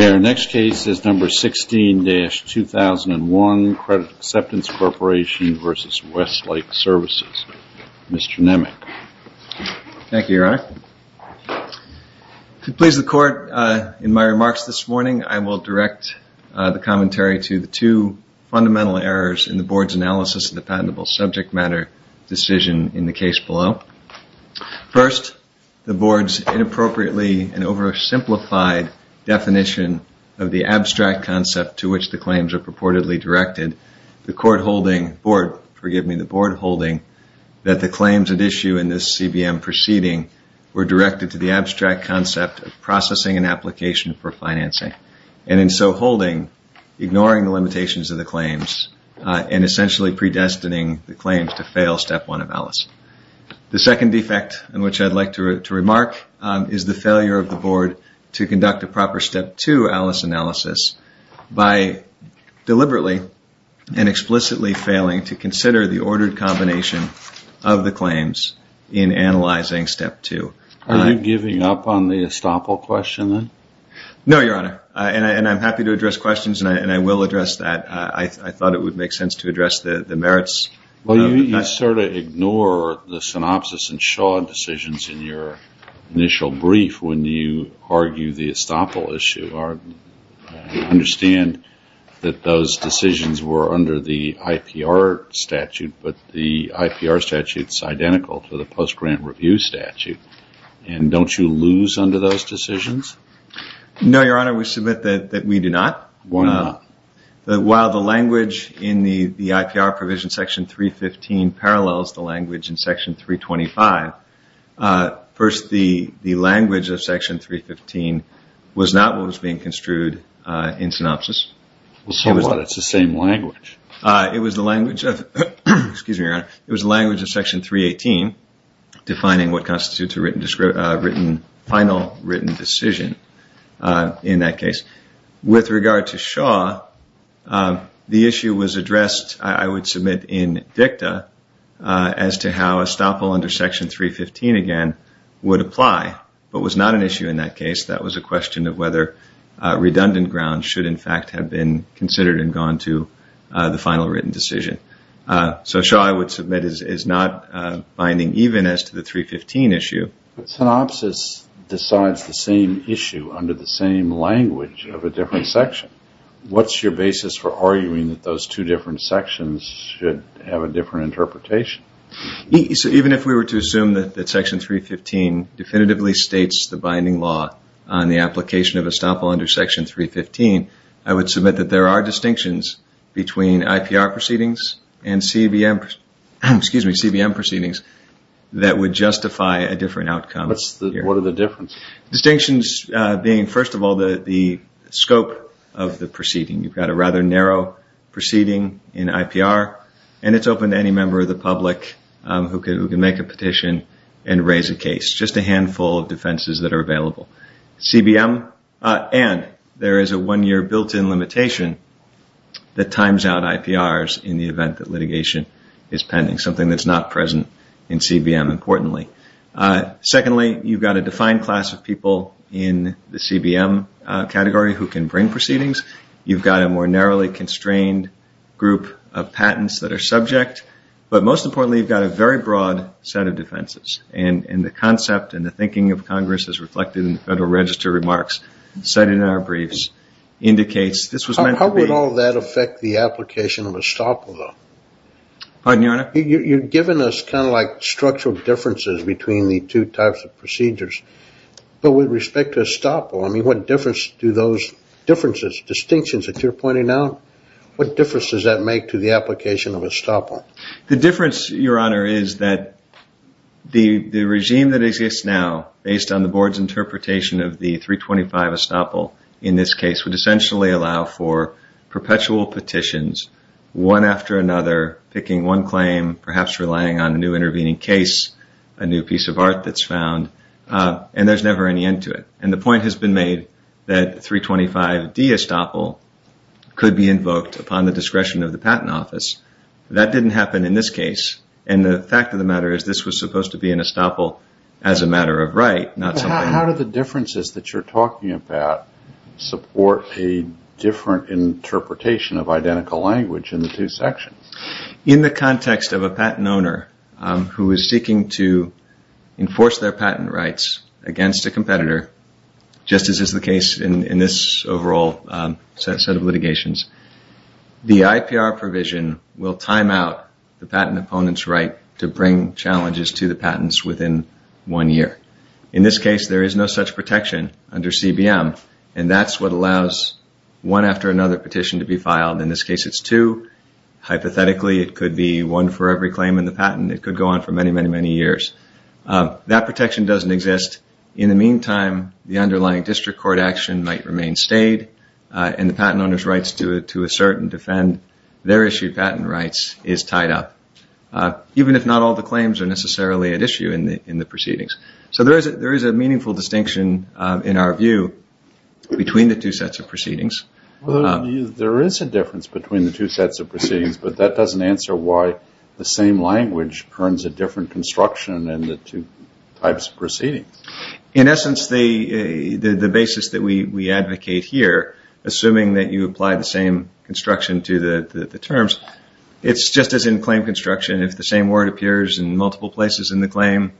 Our next case is number 16-2001, Credit Acceptance Corporation v. Westlake Services. Mr. Nemec. Thank you, Your Honor. To please the Court in my remarks this morning, I will direct the commentary to the two fundamental errors in the Board's analysis of the patentable subject matter decision in the case below. First, the Board's inappropriately and oversimplified definition of the abstract concept to which the claims are purportedly directed, the Court holding, Board, forgive me, the Board holding that the claims at issue in this CBM proceeding were directed to the abstract concept of processing an application for financing, and in so holding, ignoring the limitations of the claims and essentially predestining the claims to fail Step 1 of ALICE. The second defect in which I would like to remark is the failure of the Board to conduct a proper Step 2 ALICE analysis by deliberately and explicitly failing to consider the ordered combination of the claims in analyzing Step 2. Are you giving up on the estoppel question then? No, Your Honor, and I'm happy to address questions and I will address that. I thought it would make sense to address the merits. Well, you sort of ignore the synopsis and shod decisions in your initial brief when you argue the estoppel issue. You understand that those decisions were under the IPR statute, but the IPR statute is identical to the post-grant review statute, and don't you lose under those decisions? No, Your Honor, we submit that we do not. Why not? While the language in the IPR provision section 315 parallels the language in section 325, first, the language of section 315 was not what was being construed in synopsis. So what? It's the same language. It was the language of section 318 defining what constitutes a final written decision in that case. With regard to Shaw, the issue was addressed, I would submit, in dicta as to how estoppel under section 315, again, would apply, but was not an issue in that case. That was a question of whether redundant grounds should, in fact, have been considered and gone to the final written decision. So Shaw, I would submit, is not binding even as to the 315 issue. Synopsis decides the same issue under the same language of a different section. What's your basis for arguing that those two different sections should have a different interpretation? Even if we were to assume that section 315 definitively states the binding law on the application of estoppel under section 315, I would submit that there are distinctions between IPR proceedings and CBM proceedings that would justify a different outcome. What are the differences? Distinctions being, first of all, the scope of the proceeding. You've got a rather narrow proceeding in IPR, and it's open to any member of the public who can make a petition and raise a case. Just a handful of defenses that are available. CBM, and there is a one-year built-in limitation that times out IPRs in the event that litigation is pending, something that's not present in CBM, importantly. Secondly, you've got a defined class of people in the CBM category who can bring proceedings. You've got a more narrowly constrained group of patents that are subject. But most importantly, you've got a very broad set of defenses, and the concept and the thinking of Congress as reflected in the Federal Register remarks cited in our briefs indicates this was meant to be... How would all that affect the application of estoppel, though? Pardon, Your Honor? You've given us kind of like structural differences between the two types of procedures, but with respect to estoppel, I mean, what difference do those differences, distinctions that you're pointing out, what difference does that make to the application of estoppel? The difference, Your Honor, is that the regime that exists now, based on the Board's interpretation of the 325 estoppel in this case, would essentially allow for perpetual petitions, one after another, picking one claim, perhaps relying on a new intervening case, a new piece of art that's And the point has been made that 325D estoppel could be invoked upon the discretion of the Patent Office. That didn't happen in this case, and the fact of the matter is this was supposed to be an estoppel as a matter of right, not something... How do the differences that you're talking about support a different interpretation of identical language in the two sections? In the context of a patent owner who is seeking to enforce their patent rights against a competitor just as is the case in this overall set of litigations, the IPR provision will time out the patent opponent's right to bring challenges to the patents within one year. In this case, there is no such protection under CBM, and that's what allows one after another petition to be filed. In this case, it's two. Hypothetically, it could be one for every claim in the patent. It could go on for many, many, many years. That protection doesn't exist. In the meantime, the underlying district court action might remain stayed, and the patent owner's rights to assert and defend their issued patent rights is tied up, even if not all the claims are necessarily at issue in the proceedings. So there is a meaningful distinction, in our view, between the two sets of proceedings. There is a difference between the two sets of proceedings, but that doesn't answer why the same language turns a different construction in the two types of proceedings. In essence, the basis that we advocate here, assuming that you apply the same construction to the terms, it's just as in claim construction. If the same word appears in multiple places in the claim,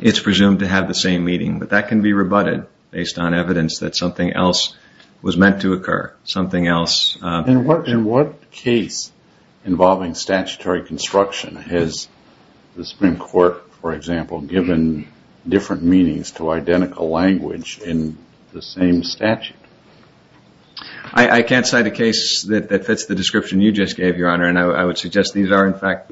it's presumed to have the same meaning, but that can be rebutted based on evidence that something else was meant to occur. In what case involving statutory construction has the Supreme Court, for example, given different meanings to identical language in the same statute? I can't cite a case that fits the description you just gave, Your Honor, and I would suggest these are, in fact,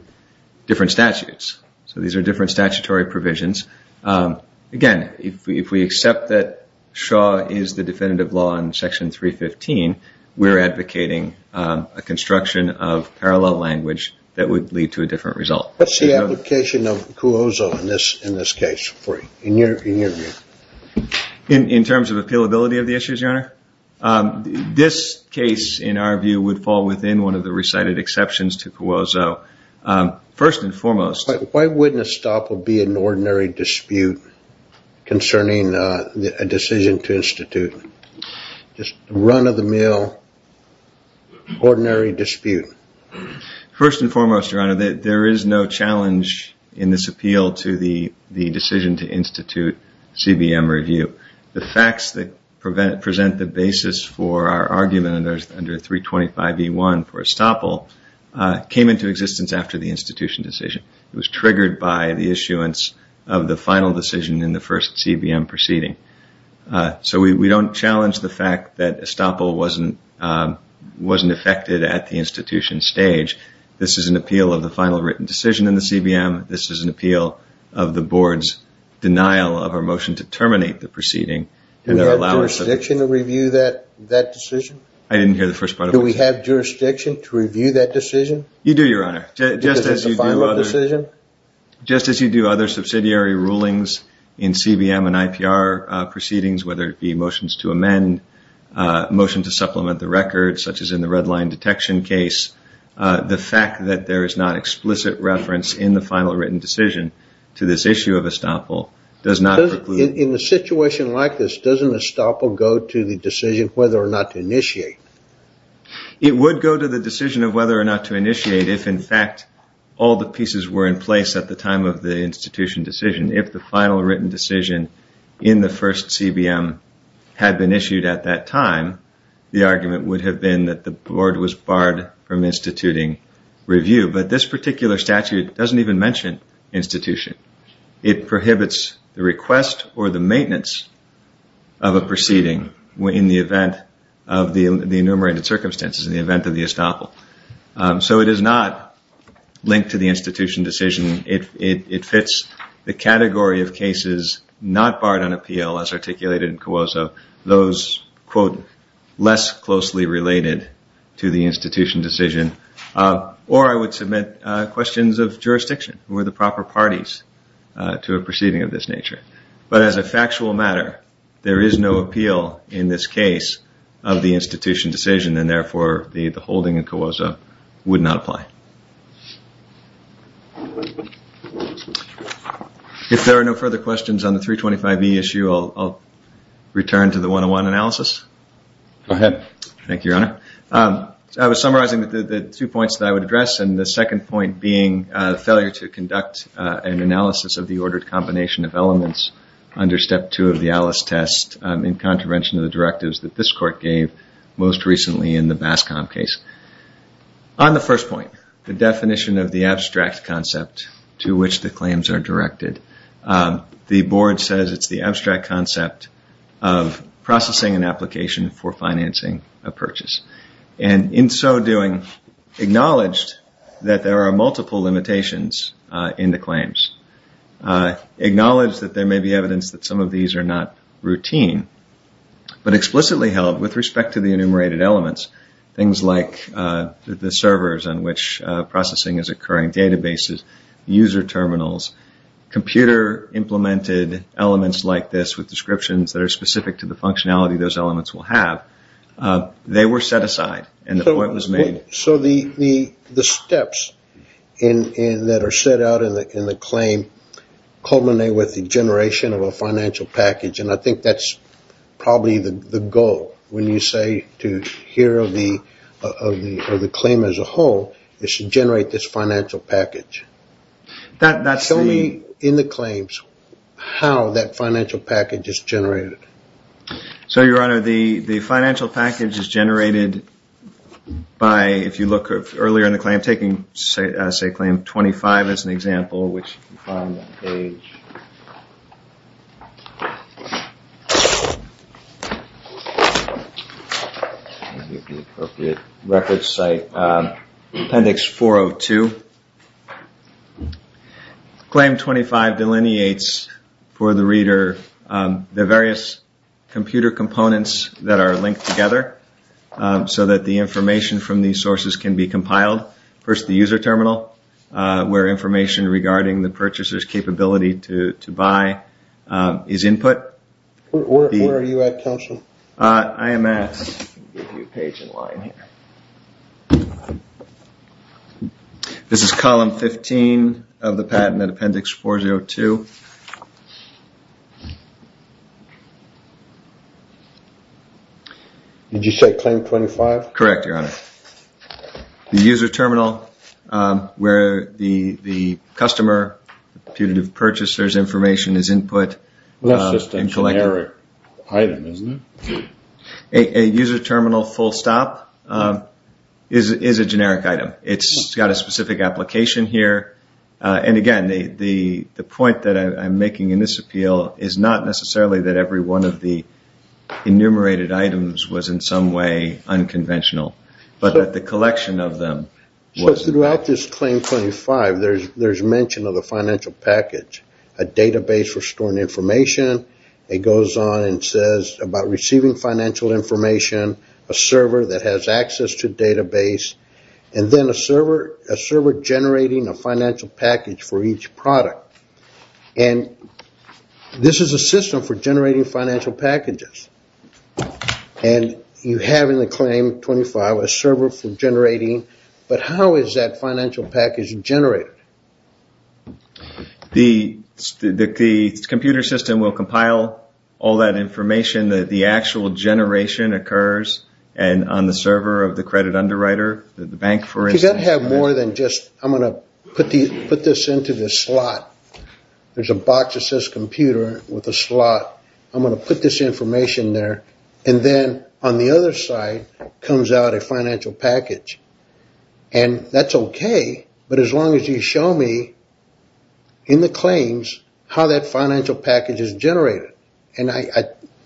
different statutes. So these are different statutory provisions. Again, if we accept that Shaw is the definitive law in Section 315, we're advocating a construction of parallel language that would lead to a different result. What's the application of Cuozzo in this case, in your view? In terms of appealability of the issues, Your Honor? This case, in our view, would fall within one of the recited exceptions to Cuozzo. First and foremost... Why wouldn't Estoppel be in an ordinary dispute concerning a decision to institute? Just run of the mill, ordinary dispute. First and foremost, Your Honor, there is no challenge in this appeal to the decision to institute CBM review. The facts that present the basis for our argument under 325e1 for Estoppel came into existence after the institution decision. It was triggered by the issuance of the final decision in the first CBM proceeding. So we don't challenge the fact that Estoppel wasn't affected at the institution stage. This is an appeal of the final written decision in the CBM. This is an appeal of the Board's denial of our motion to terminate the proceeding. Do we have jurisdiction to review that decision? I didn't hear the first part of that. Do we have jurisdiction to review that decision? You do, Your Honor. Just as you do other subsidiary rulings in CBM and IPR proceedings, whether it be motions to amend, motions to supplement the record, such as in the red line detection case. The fact that there is not explicit reference in the final written decision to this issue of Estoppel does not preclude... In a situation like this, doesn't Estoppel go to the decision whether or not to initiate? It would go to the decision of whether or not to initiate if, in fact, all the pieces were in place at the time of the institution decision. If the final written decision in the first CBM had been issued at that time, the argument would have been that the Board was barred from instituting review. But this particular statute doesn't even mention institution. It prohibits the request or the maintenance of a proceeding in the event of the enumerated circumstances, in the event of the Estoppel. So it is not linked to the institution decision. It fits the category of cases not barred on appeal, as articulated in COASA. Those, quote, less closely related to the institution decision. Or I would submit questions of jurisdiction. Were the proper parties to a proceeding of this nature? But as a factual matter, there is no appeal in this case of the institution decision and therefore the holding in COASA would not apply. If there are no further questions on the 325B issue, I'll return to the 101 analysis. Go ahead. Thank you, Your Honor. I was summarizing the two points that I would address, and the second point being the failure to conduct an analysis of the ordered combination of elements under Step 2 of the Alice test in contravention of the directives that this Court gave most recently in the BASCOM case. On the first point, the definition of the abstract concept to which the claims are directed, the Board says it is the abstract concept of processing an application for financing a purchase. In so doing, acknowledged that there are multiple limitations in the claims. Acknowledged that there may be evidence that some of these are not routine, but explicitly held with respect to the enumerated elements, things like the servers on which processing is occurring, databases, user terminals, computer-implemented elements like this with descriptions that are specific to the functionality those elements will have. They were set aside, and the point was made. So the steps that are set out in the claim culminate with the generation of a financial package, and I think that's probably the goal. When you say to hear of the claim as a whole, it should generate this financial package. Tell me in the claims how that financial package is generated. So Your Honor, the financial package is generated by, if you look earlier in the claim, taking say claim 25 as an example, appendix 402, claim 25 delineates for the reader the various computer components that are linked together so that the information from these sources can be compiled. First, the user terminal, where information regarding the purchaser's capability to buy is input. Where are you at, Counselor? I am at, I'll give you a page in line here. This is column 15 of the patent at appendix 402. Did you say claim 25? Correct, Your Honor. The user terminal, where the customer, the purchaser's information is input. Well, that's just a generic item, isn't it? A user terminal full stop is a generic item. It's got a specific application here, and again, the point that I'm making in this appeal is not necessarily that every one of the enumerated items was in some way unconventional, but that the collection of them was. Throughout this claim 25, there's mention of the financial package, a database for storing information. It goes on and says about receiving financial information, a server that has access to database, and then a server generating a financial package for each product. This is a system for generating financial packages. You have in the claim 25 a server for generating, but how is that financial package generated? The computer system will compile all that information that the actual generation occurs and on the server of the credit underwriter, the bank for instance. You got to have more than just, I'm going to put this into the slot. There's a box that says computer with a slot. I'm going to put this information there, and then on the other side comes out a financial package, and that's okay, but as long as you show me in the claims how that financial package is generated, and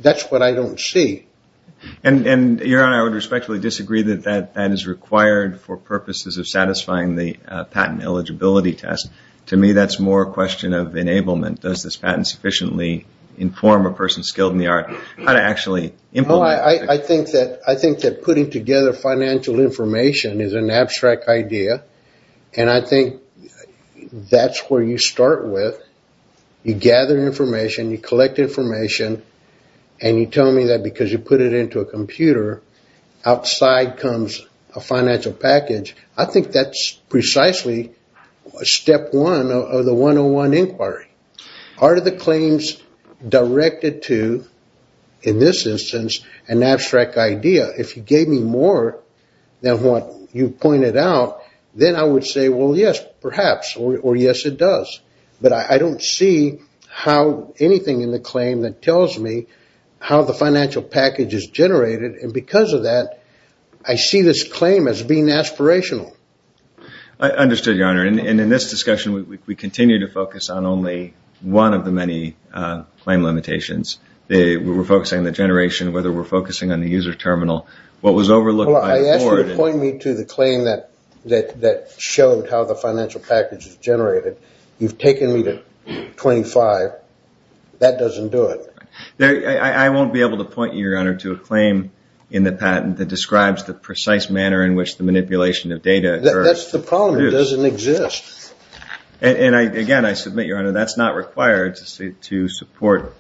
that's what I don't see. Your Honor, I would respectfully disagree that that is required for purposes of satisfying the patent eligibility test. To me, that's more a question of enablement. Does this patent sufficiently inform a person skilled in the art how to actually implement? I think that putting together financial information is an abstract idea, and I think that's where you start with. You gather information, you collect information, and you tell me that because you put it into a computer, outside comes a financial package. I think that's precisely step one of the 101 inquiry. Are the claims directed to, in this instance, an abstract idea? If you gave me more than what you pointed out, then I would say, well, yes, perhaps, or yes, it does. But I don't see how anything in the claim that tells me how the financial package is generated, and because of that, I see this claim as being aspirational. I understood, Your Honor, and in this discussion, we continue to focus on only one of the many claim limitations. We're focusing on the generation, whether we're focusing on the user terminal. What was overlooked by the board... I asked you to point me to the claim that showed how the financial package is generated. You've taken me to 25. That doesn't do it. I won't be able to point you, Your Honor, to a claim in the patent that describes the precise manner in which the manipulation of data occurs. That's the problem. It doesn't exist. And, again, I submit, Your Honor, that's not required to support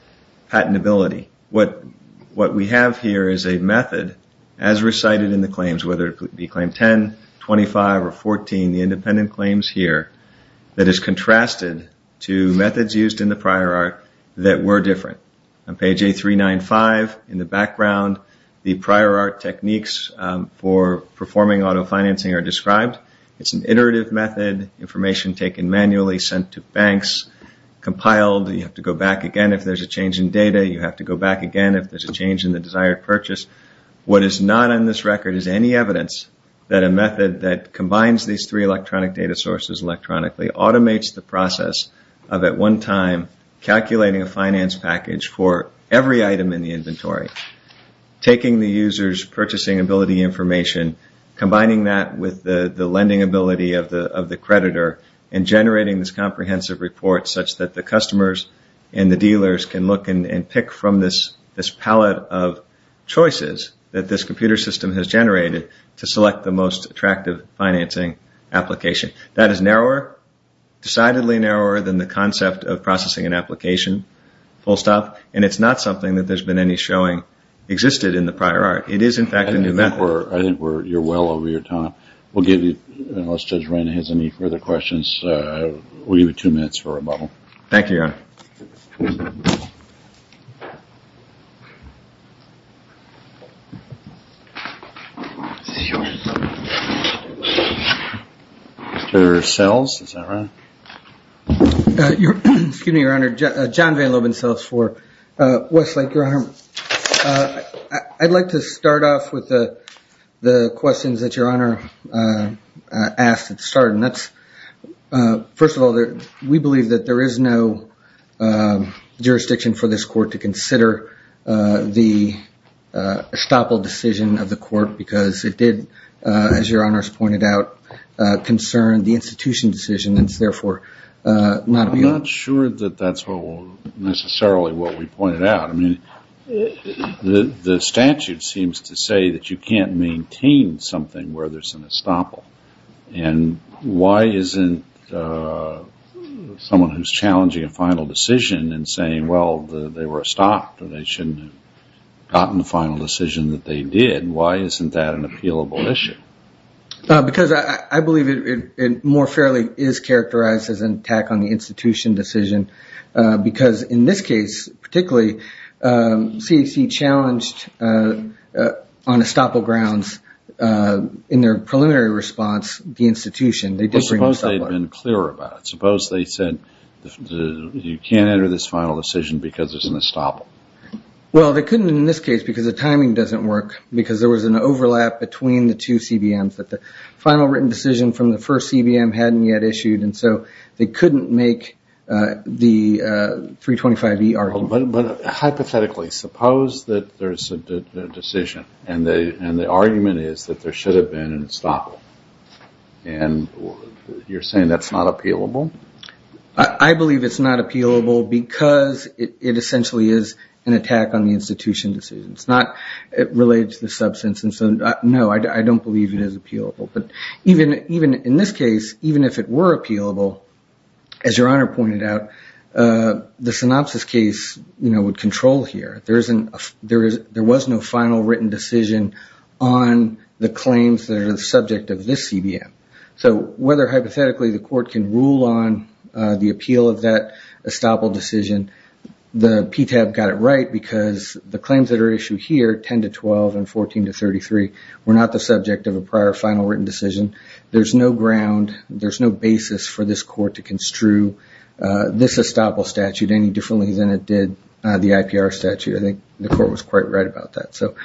patentability. What we have here is a method, as recited in the claims, whether it be claim 10, 25, or 14, the independent claims here, that is contrasted to methods used in the prior art that were different. On page A395, in the background, the prior art techniques for performing auto-financing are described. It's an iterative method, information taken manually, sent to banks, compiled. You have to go back again if there's a change in data. You have to go back again if there's a change in the desired purchase. What is not on this record is any evidence that a method that combines these three electronic data sources electronically automates the process of, at one time, calculating a finance package for every item in the inventory, taking the user's purchasing ability information, combining that with the lending ability of the creditor, and generating this comprehensive report such that the customers and the dealers can look and pick from this palette of choices that this computer system has generated to select the most attractive financing application. That is narrower, decidedly narrower, than the concept of processing an application, full stop, and it's not something that there's been any showing existed in the prior art. It is, in fact, a new method. I think you're well over your time. We'll give you, unless Judge Reina has any further questions, we'll give you two minutes for rebuttal. Thank you, Your Honor. Mr. Sells, is that right? Excuse me, Your Honor. John Van Loban, Sells 4. Wesley, Your Honor, I'd like to start off with the questions that Your Honor asked at the start. First of all, we believe that there is no jurisdiction for this court to consider the estoppel decision of the court because it did, as Your Honor has pointed out, concern the institution decision, and it's therefore not a view. I'm not sure that that's necessarily what we pointed out. I mean, the statute seems to say that you can't maintain something where there's an estoppel, and why isn't someone who's challenging a final decision and saying, well, they were estopped, or they shouldn't have gotten the final decision that they did, why isn't that an appealable issue? Because I believe it more fairly is characterized as an attack on the institution decision, because in this case, particularly, CAC challenged on estoppel grounds in their preliminary response the institution. Suppose they'd been clearer about it. Suppose they said you can't enter this final decision because there's an estoppel. Well, they couldn't in this case because the timing doesn't work, because there was an overlap between the two CBMs that the final written decision from the first CBM hadn't yet issued, and so they couldn't make the 325E argument. But hypothetically, suppose that there's a decision, and the argument is that there should have been an estoppel, and you're saying that's not appealable? I believe it's not appealable because it essentially is an attack on the institution decision. It relates to the substance, and so no, I don't believe it is appealable. But in this case, even if it were appealable, as Your Honor pointed out, the synopsis case would control here. There was no final written decision on the claims that are the subject of this CBM. So whether hypothetically the court can rule on the appeal of that estoppel decision, the PTAB got it right because the claims that are issued here, 10 to 12 and 14 to 33, were not the subject of a prior final written decision. There's no ground, there's no basis for this court to construe this estoppel statute any differently than it did the IPR statute. I think the court was quite right about that. So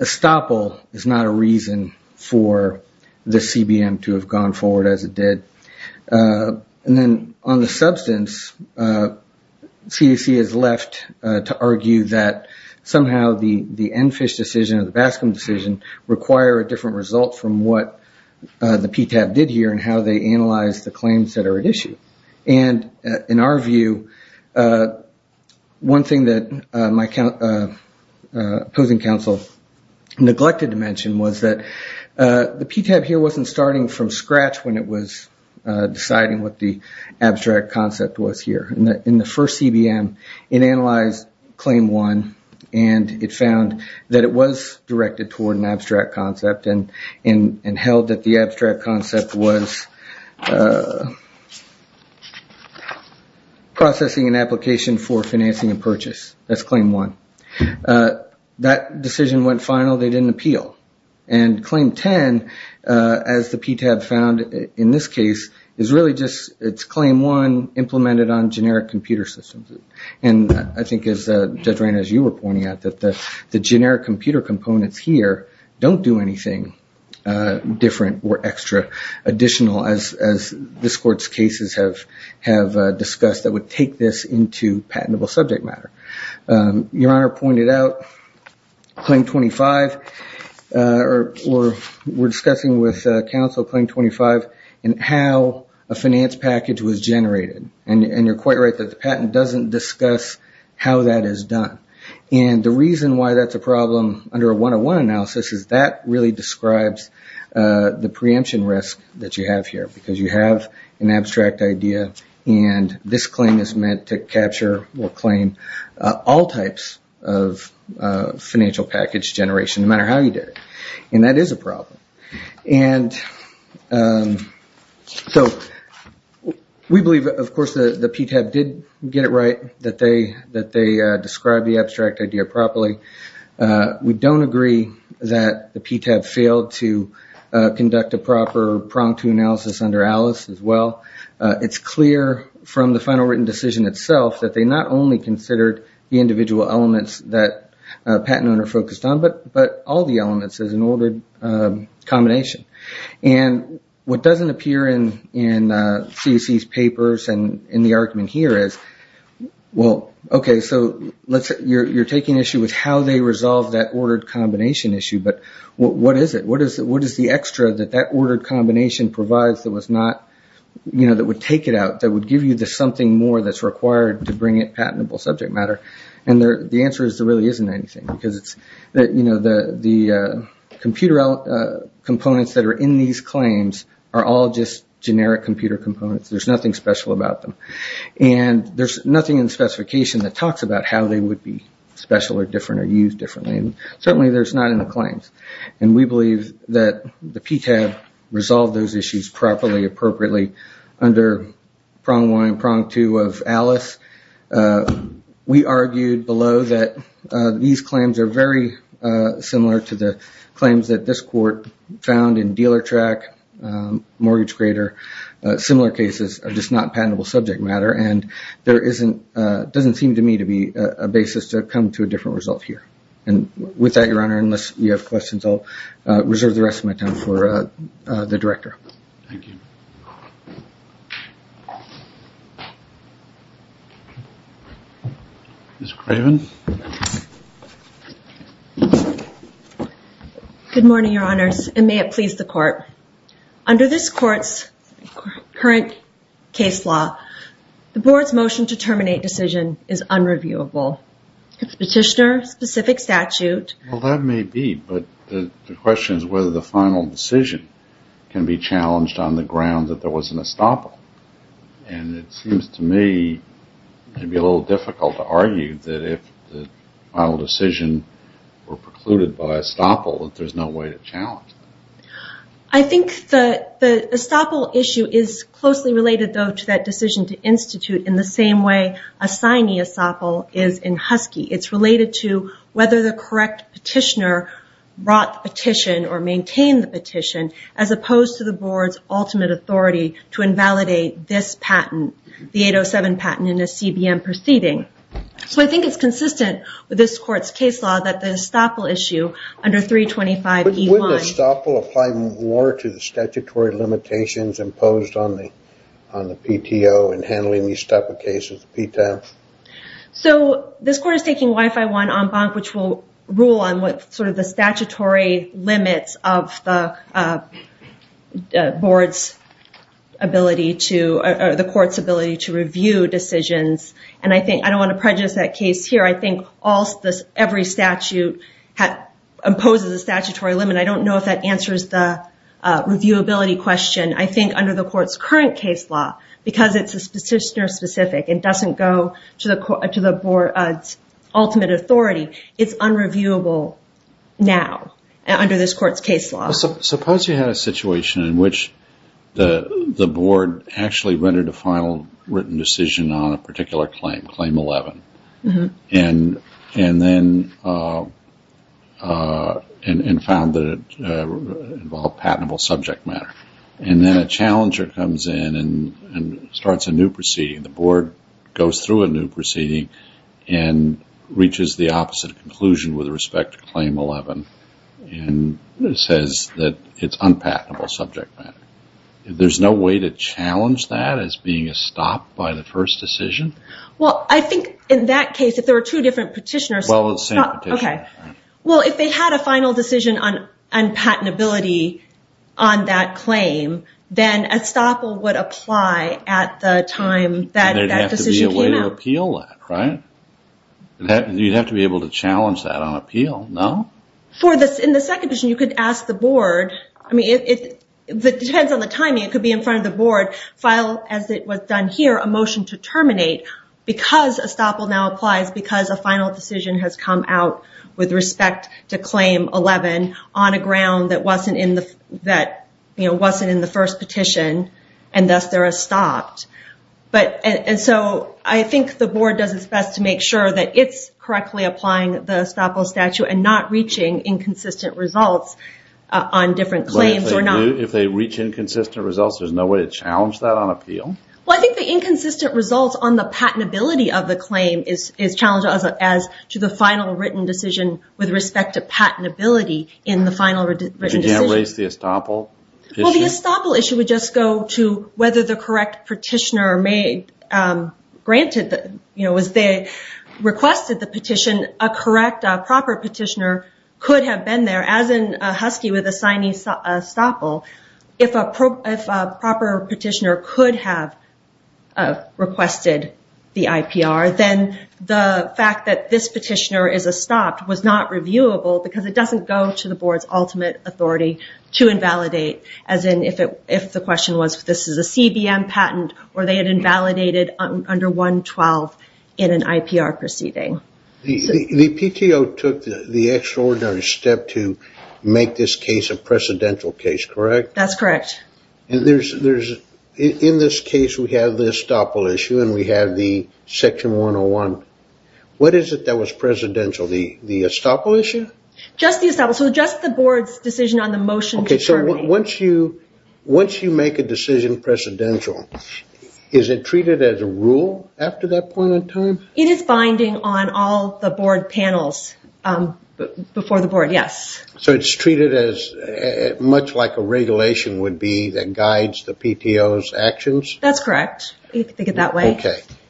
estoppel is not a reason for this CBM to have gone forward as it did. And then on the substance, CDC has left to argue that somehow the EnFISH decision or the Bascom decision require a different result from what the PTAB did here and how they analyzed the claims that are at issue. And in our view, one thing that my opposing counsel neglected to mention was that the PTAB here wasn't starting from scratch when it was deciding what the abstract concept was here. In the first CBM, it analyzed Claim 1 and it found that it was directed toward an abstract concept and held that the abstract concept was processing an application for financing a purchase. That's Claim 1. That decision went final, they didn't appeal. And Claim 10, as the PTAB found in this case, is really just it's Claim 1 implemented on generic computer systems. And I think as Judge Reina, as you were pointing out, that the generic computer components here don't do anything different or extra additional as this court's cases have discussed that would take this into patentable subject matter. Your Honor pointed out Claim 25 or we're discussing with counsel Claim 25 and how a finance package was generated. And you're quite right that the patent doesn't discuss how that is done. And the reason why that's a problem under a 101 analysis is that really describes the preemption risk that you have here because you have an abstract idea and this claim is meant to capture or claim all types of financial package generation no matter how you did it. And that is a problem. And so we believe, of course, that the PTAB did get it right that they described the abstract idea properly. We don't agree that the PTAB failed to conduct a proper prong to analysis under Alice as well. It's clear from the final written decision itself that they not only considered the individual elements that a patent owner focused on, but all the elements as an ordered combination. And what doesn't appear in CAC's papers and in the argument here is, well, okay, so you're taking issue with how they resolved that ordered combination issue, but what is it? And the answer is there really isn't anything because the computer components that are in these claims are all just generic computer components. There's nothing special about them. And there's nothing in the specification that talks about how they would be special or different or used differently. And certainly there's not in the claims. And we believe that the PTAB resolved those issues properly, appropriately, under prong one and prong two of Alice. We argued below that these claims are very similar to the claims that this court found in Dealer Track, Mortgage Grader. Similar cases are just not patentable subject matter. And there doesn't seem to me to be a basis to come to a different result here. And with that, Your Honor, unless you have questions, I'll reserve the rest of my time for the Director. Thank you. Ms. Craven. Good morning, Your Honors, and may it please the Court. Under this Court's current case law, the Board's motion to terminate decision is unreviewable. Petitioner, specific statute. Well, that may be, but the question is whether the final decision can be challenged on the ground that there was an estoppel. And it seems to me, maybe a little difficult to argue, that if the final decision were precluded by estoppel, that there's no way to challenge it. I think the estoppel issue is closely related, though, to that decision to institute in the same way a sine estoppel is in Husky. It's related to whether the correct petitioner brought the petition or maintained the petition, as opposed to the Board's ultimate authority to invalidate this patent, the 807 patent in a CBM proceeding. So I think it's consistent with this Court's case law that the estoppel issue under 325E1... But wouldn't estoppel apply more to the statutory limitations imposed on the PTO in handling estoppel cases? So, this Court is taking Y51 en banc, which will rule on the statutory limits of the Court's ability to review decisions. And I don't want to prejudice that case here. I think every statute imposes a statutory limit. I don't know if that answers the reviewability question. I think under the Court's current case law, because it's a petitioner-specific and doesn't go to the Board's ultimate authority, it's unreviewable now under this Court's case law. Suppose you had a situation in which the Board actually rendered a final written decision on a particular claim, claim 11, and then found that it involved patentable subject matter. And then a challenger comes in and starts a new proceeding. The Board goes through a new proceeding and reaches the opposite conclusion with respect to claim 11 and says that it's unpatentable subject matter. There's no way to challenge that as being a stop by the first decision? Well, I think in that case, if there were two different petitioners... Well, it's the same petition. Well, if they had a final decision on unpatentability on that claim, then estoppel would apply at the time that decision came out. There'd have to be a way to appeal that, right? You'd have to be able to challenge that on appeal, no? In the second petition, you could ask the Board... It depends on the timing. It could be in front of the Board, file, as it was done here, a motion to terminate, because estoppel now applies because a final decision has come out with respect to claim 11 on a ground that wasn't in the first petition, and thus there are stopped. And so I think the Board does its best to make sure that it's correctly applying the estoppel statute and not reaching inconsistent results on different claims. If they reach inconsistent results, there's no way to challenge that on appeal? Well, I think the inconsistent results on the patentability of the claim is challenged as to the final written decision with respect to patentability in the final written decision. But you can't raise the estoppel issue? Well, the estoppel issue would just go to whether the correct petitioner made... Granted, as they requested the petition, a correct, proper petitioner could have been there, as in Husky with a signing estoppel. If a proper petitioner could have requested the IPR, then the fact that this petitioner is estopped was not reviewable because it doesn't go to the Board's ultimate authority to invalidate, as in if the question was this is a CBM patent or they had invalidated under 112 in an IPR proceeding. The PTO took the extraordinary step to make this case a precedential case, correct? That's correct. In this case, we have the estoppel issue and we have the Section 101. What is it that was precedential, the estoppel issue? Just the estoppel, so just the Board's decision on the motion to terminate. Once you make a decision precedential, is it treated as a rule after that point in time? It is binding on all the Board panels before the Board, yes. So it's treated as much like a regulation would be that guides the PTO's actions? That's correct, if you think of it that way.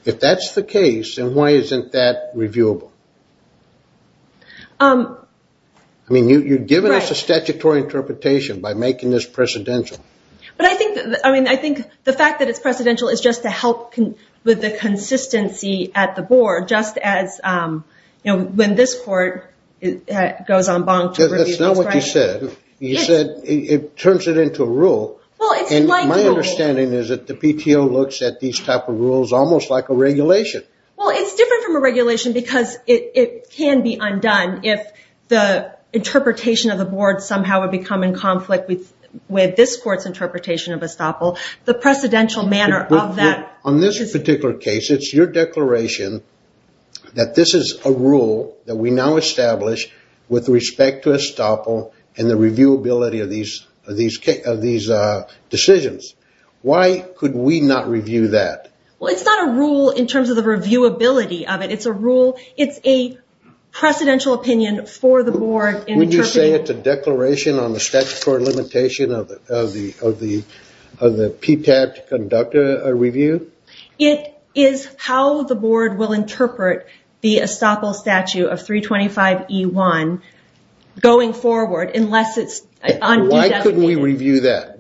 If that's the case, then why isn't that reviewable? You've given us a statutory interpretation by making this precedential. I think the fact that it's precedential is just to help with the consistency at the Board, just as when this Court goes on bonk... That's not what you said. You said it turns it into a rule. My understanding is that the PTO looks at these types of rules almost like a regulation. It's different from a regulation because it can be undone if the interpretation of the Board somehow would become in conflict with this Court's interpretation of estoppel. The precedential manner of that... On this particular case, it's your declaration that this is a rule that we now establish with respect to estoppel and the reviewability of these decisions. Why could we not review that? It's not a rule in terms of the reviewability of it. It's a rule, it's a precedential opinion for the Board... Would you say it's a declaration on the statutory limitation of the PTAC to conduct a review? It is how the Board will interpret the estoppel statute of 325E1 going forward unless it's... Why could we review that?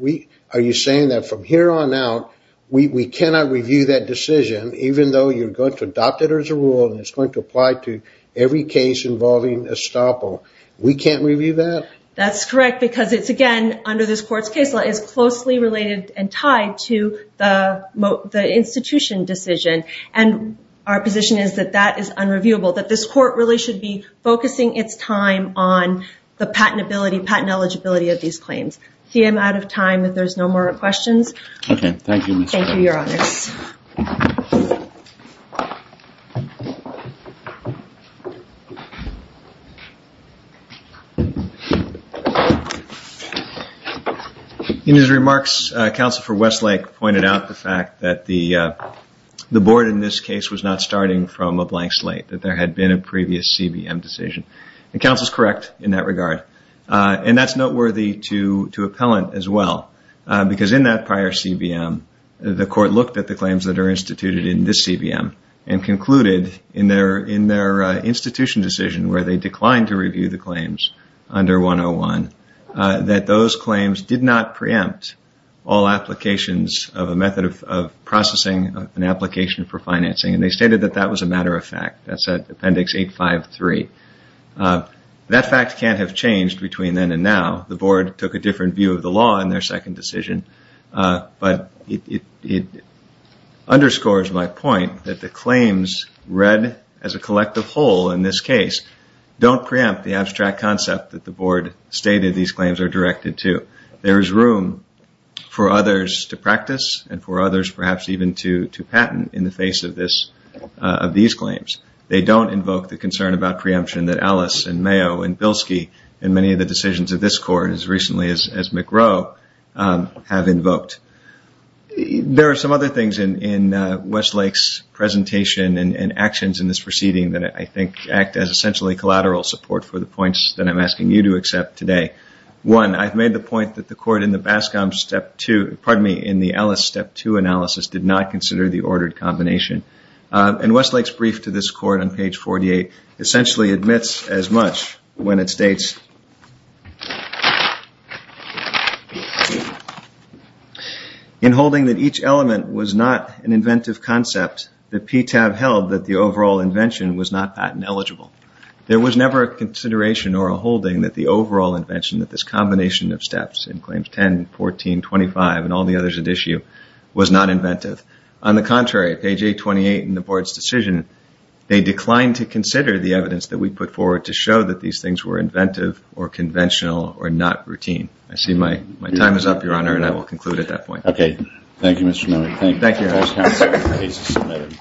Are you saying that from here on out, we cannot review that decision even though you're going to adopt it as a rule and it's going to apply to every case involving estoppel? We can't review that? That's correct, because it's, again, under this Court's case law, it's closely related and tied to the institution decision. And our position is that that is unreviewable, that this Court really should be focusing its time on the patentability, patent eligibility of these claims. See, I'm out of time, if there's no more questions. Okay, thank you. Thank you, Your Honors. In his remarks, Counsel for Westlake pointed out the fact that the Board in this case was not starting from a blank slate, that there had been a previous CBM decision. And counsel's correct in that regard. And that's noteworthy to appellant as well, because in that prior CBM, the Court looked at the claims that are instituted in this CBM and concluded in their institution decision where they declined to review the claims under 101, that those claims did not preempt all applications of a method of processing an application for financing. And they stated that that was a matter of fact. That's at Appendix 853. That fact can't have changed between then and now. The Board took a different view of the law in their second decision. But it underscores my point that the claims read as a collective whole in this case don't preempt the abstract concept that the Board stated these claims are directed to. There is room for others to practice and for others perhaps even to patent in the face of these claims. They don't invoke the concern about preemption that Alice and Mayo and Bilski and many of the decisions of this Court as recently as McGrow have invoked. There are some other things in Westlake's presentation and actions in this proceeding that I think act as essentially collateral support for the points that I'm asking you to accept today. One, I've made the point that the Court in the Bascom Step 2, pardon me, in the Alice Step 2 analysis did not consider the ordered combination. And Westlake's brief to this Court on page 48 essentially admits as much when it states in holding that each element was not an inventive concept that PTAB held that the overall invention was not patent eligible. There was never a consideration or a holding that the overall invention that this combination of steps in claims 10, 14, 25 and all the others at issue was not inventive. On the contrary, page 828 in the Board's decision they declined to consider the evidence that we put forward to show that these things were inventive or conventional or not routine. I see my time is up, Your Honor, and I will conclude at that point. Okay. Thank you, Mr. Newman. Thank you.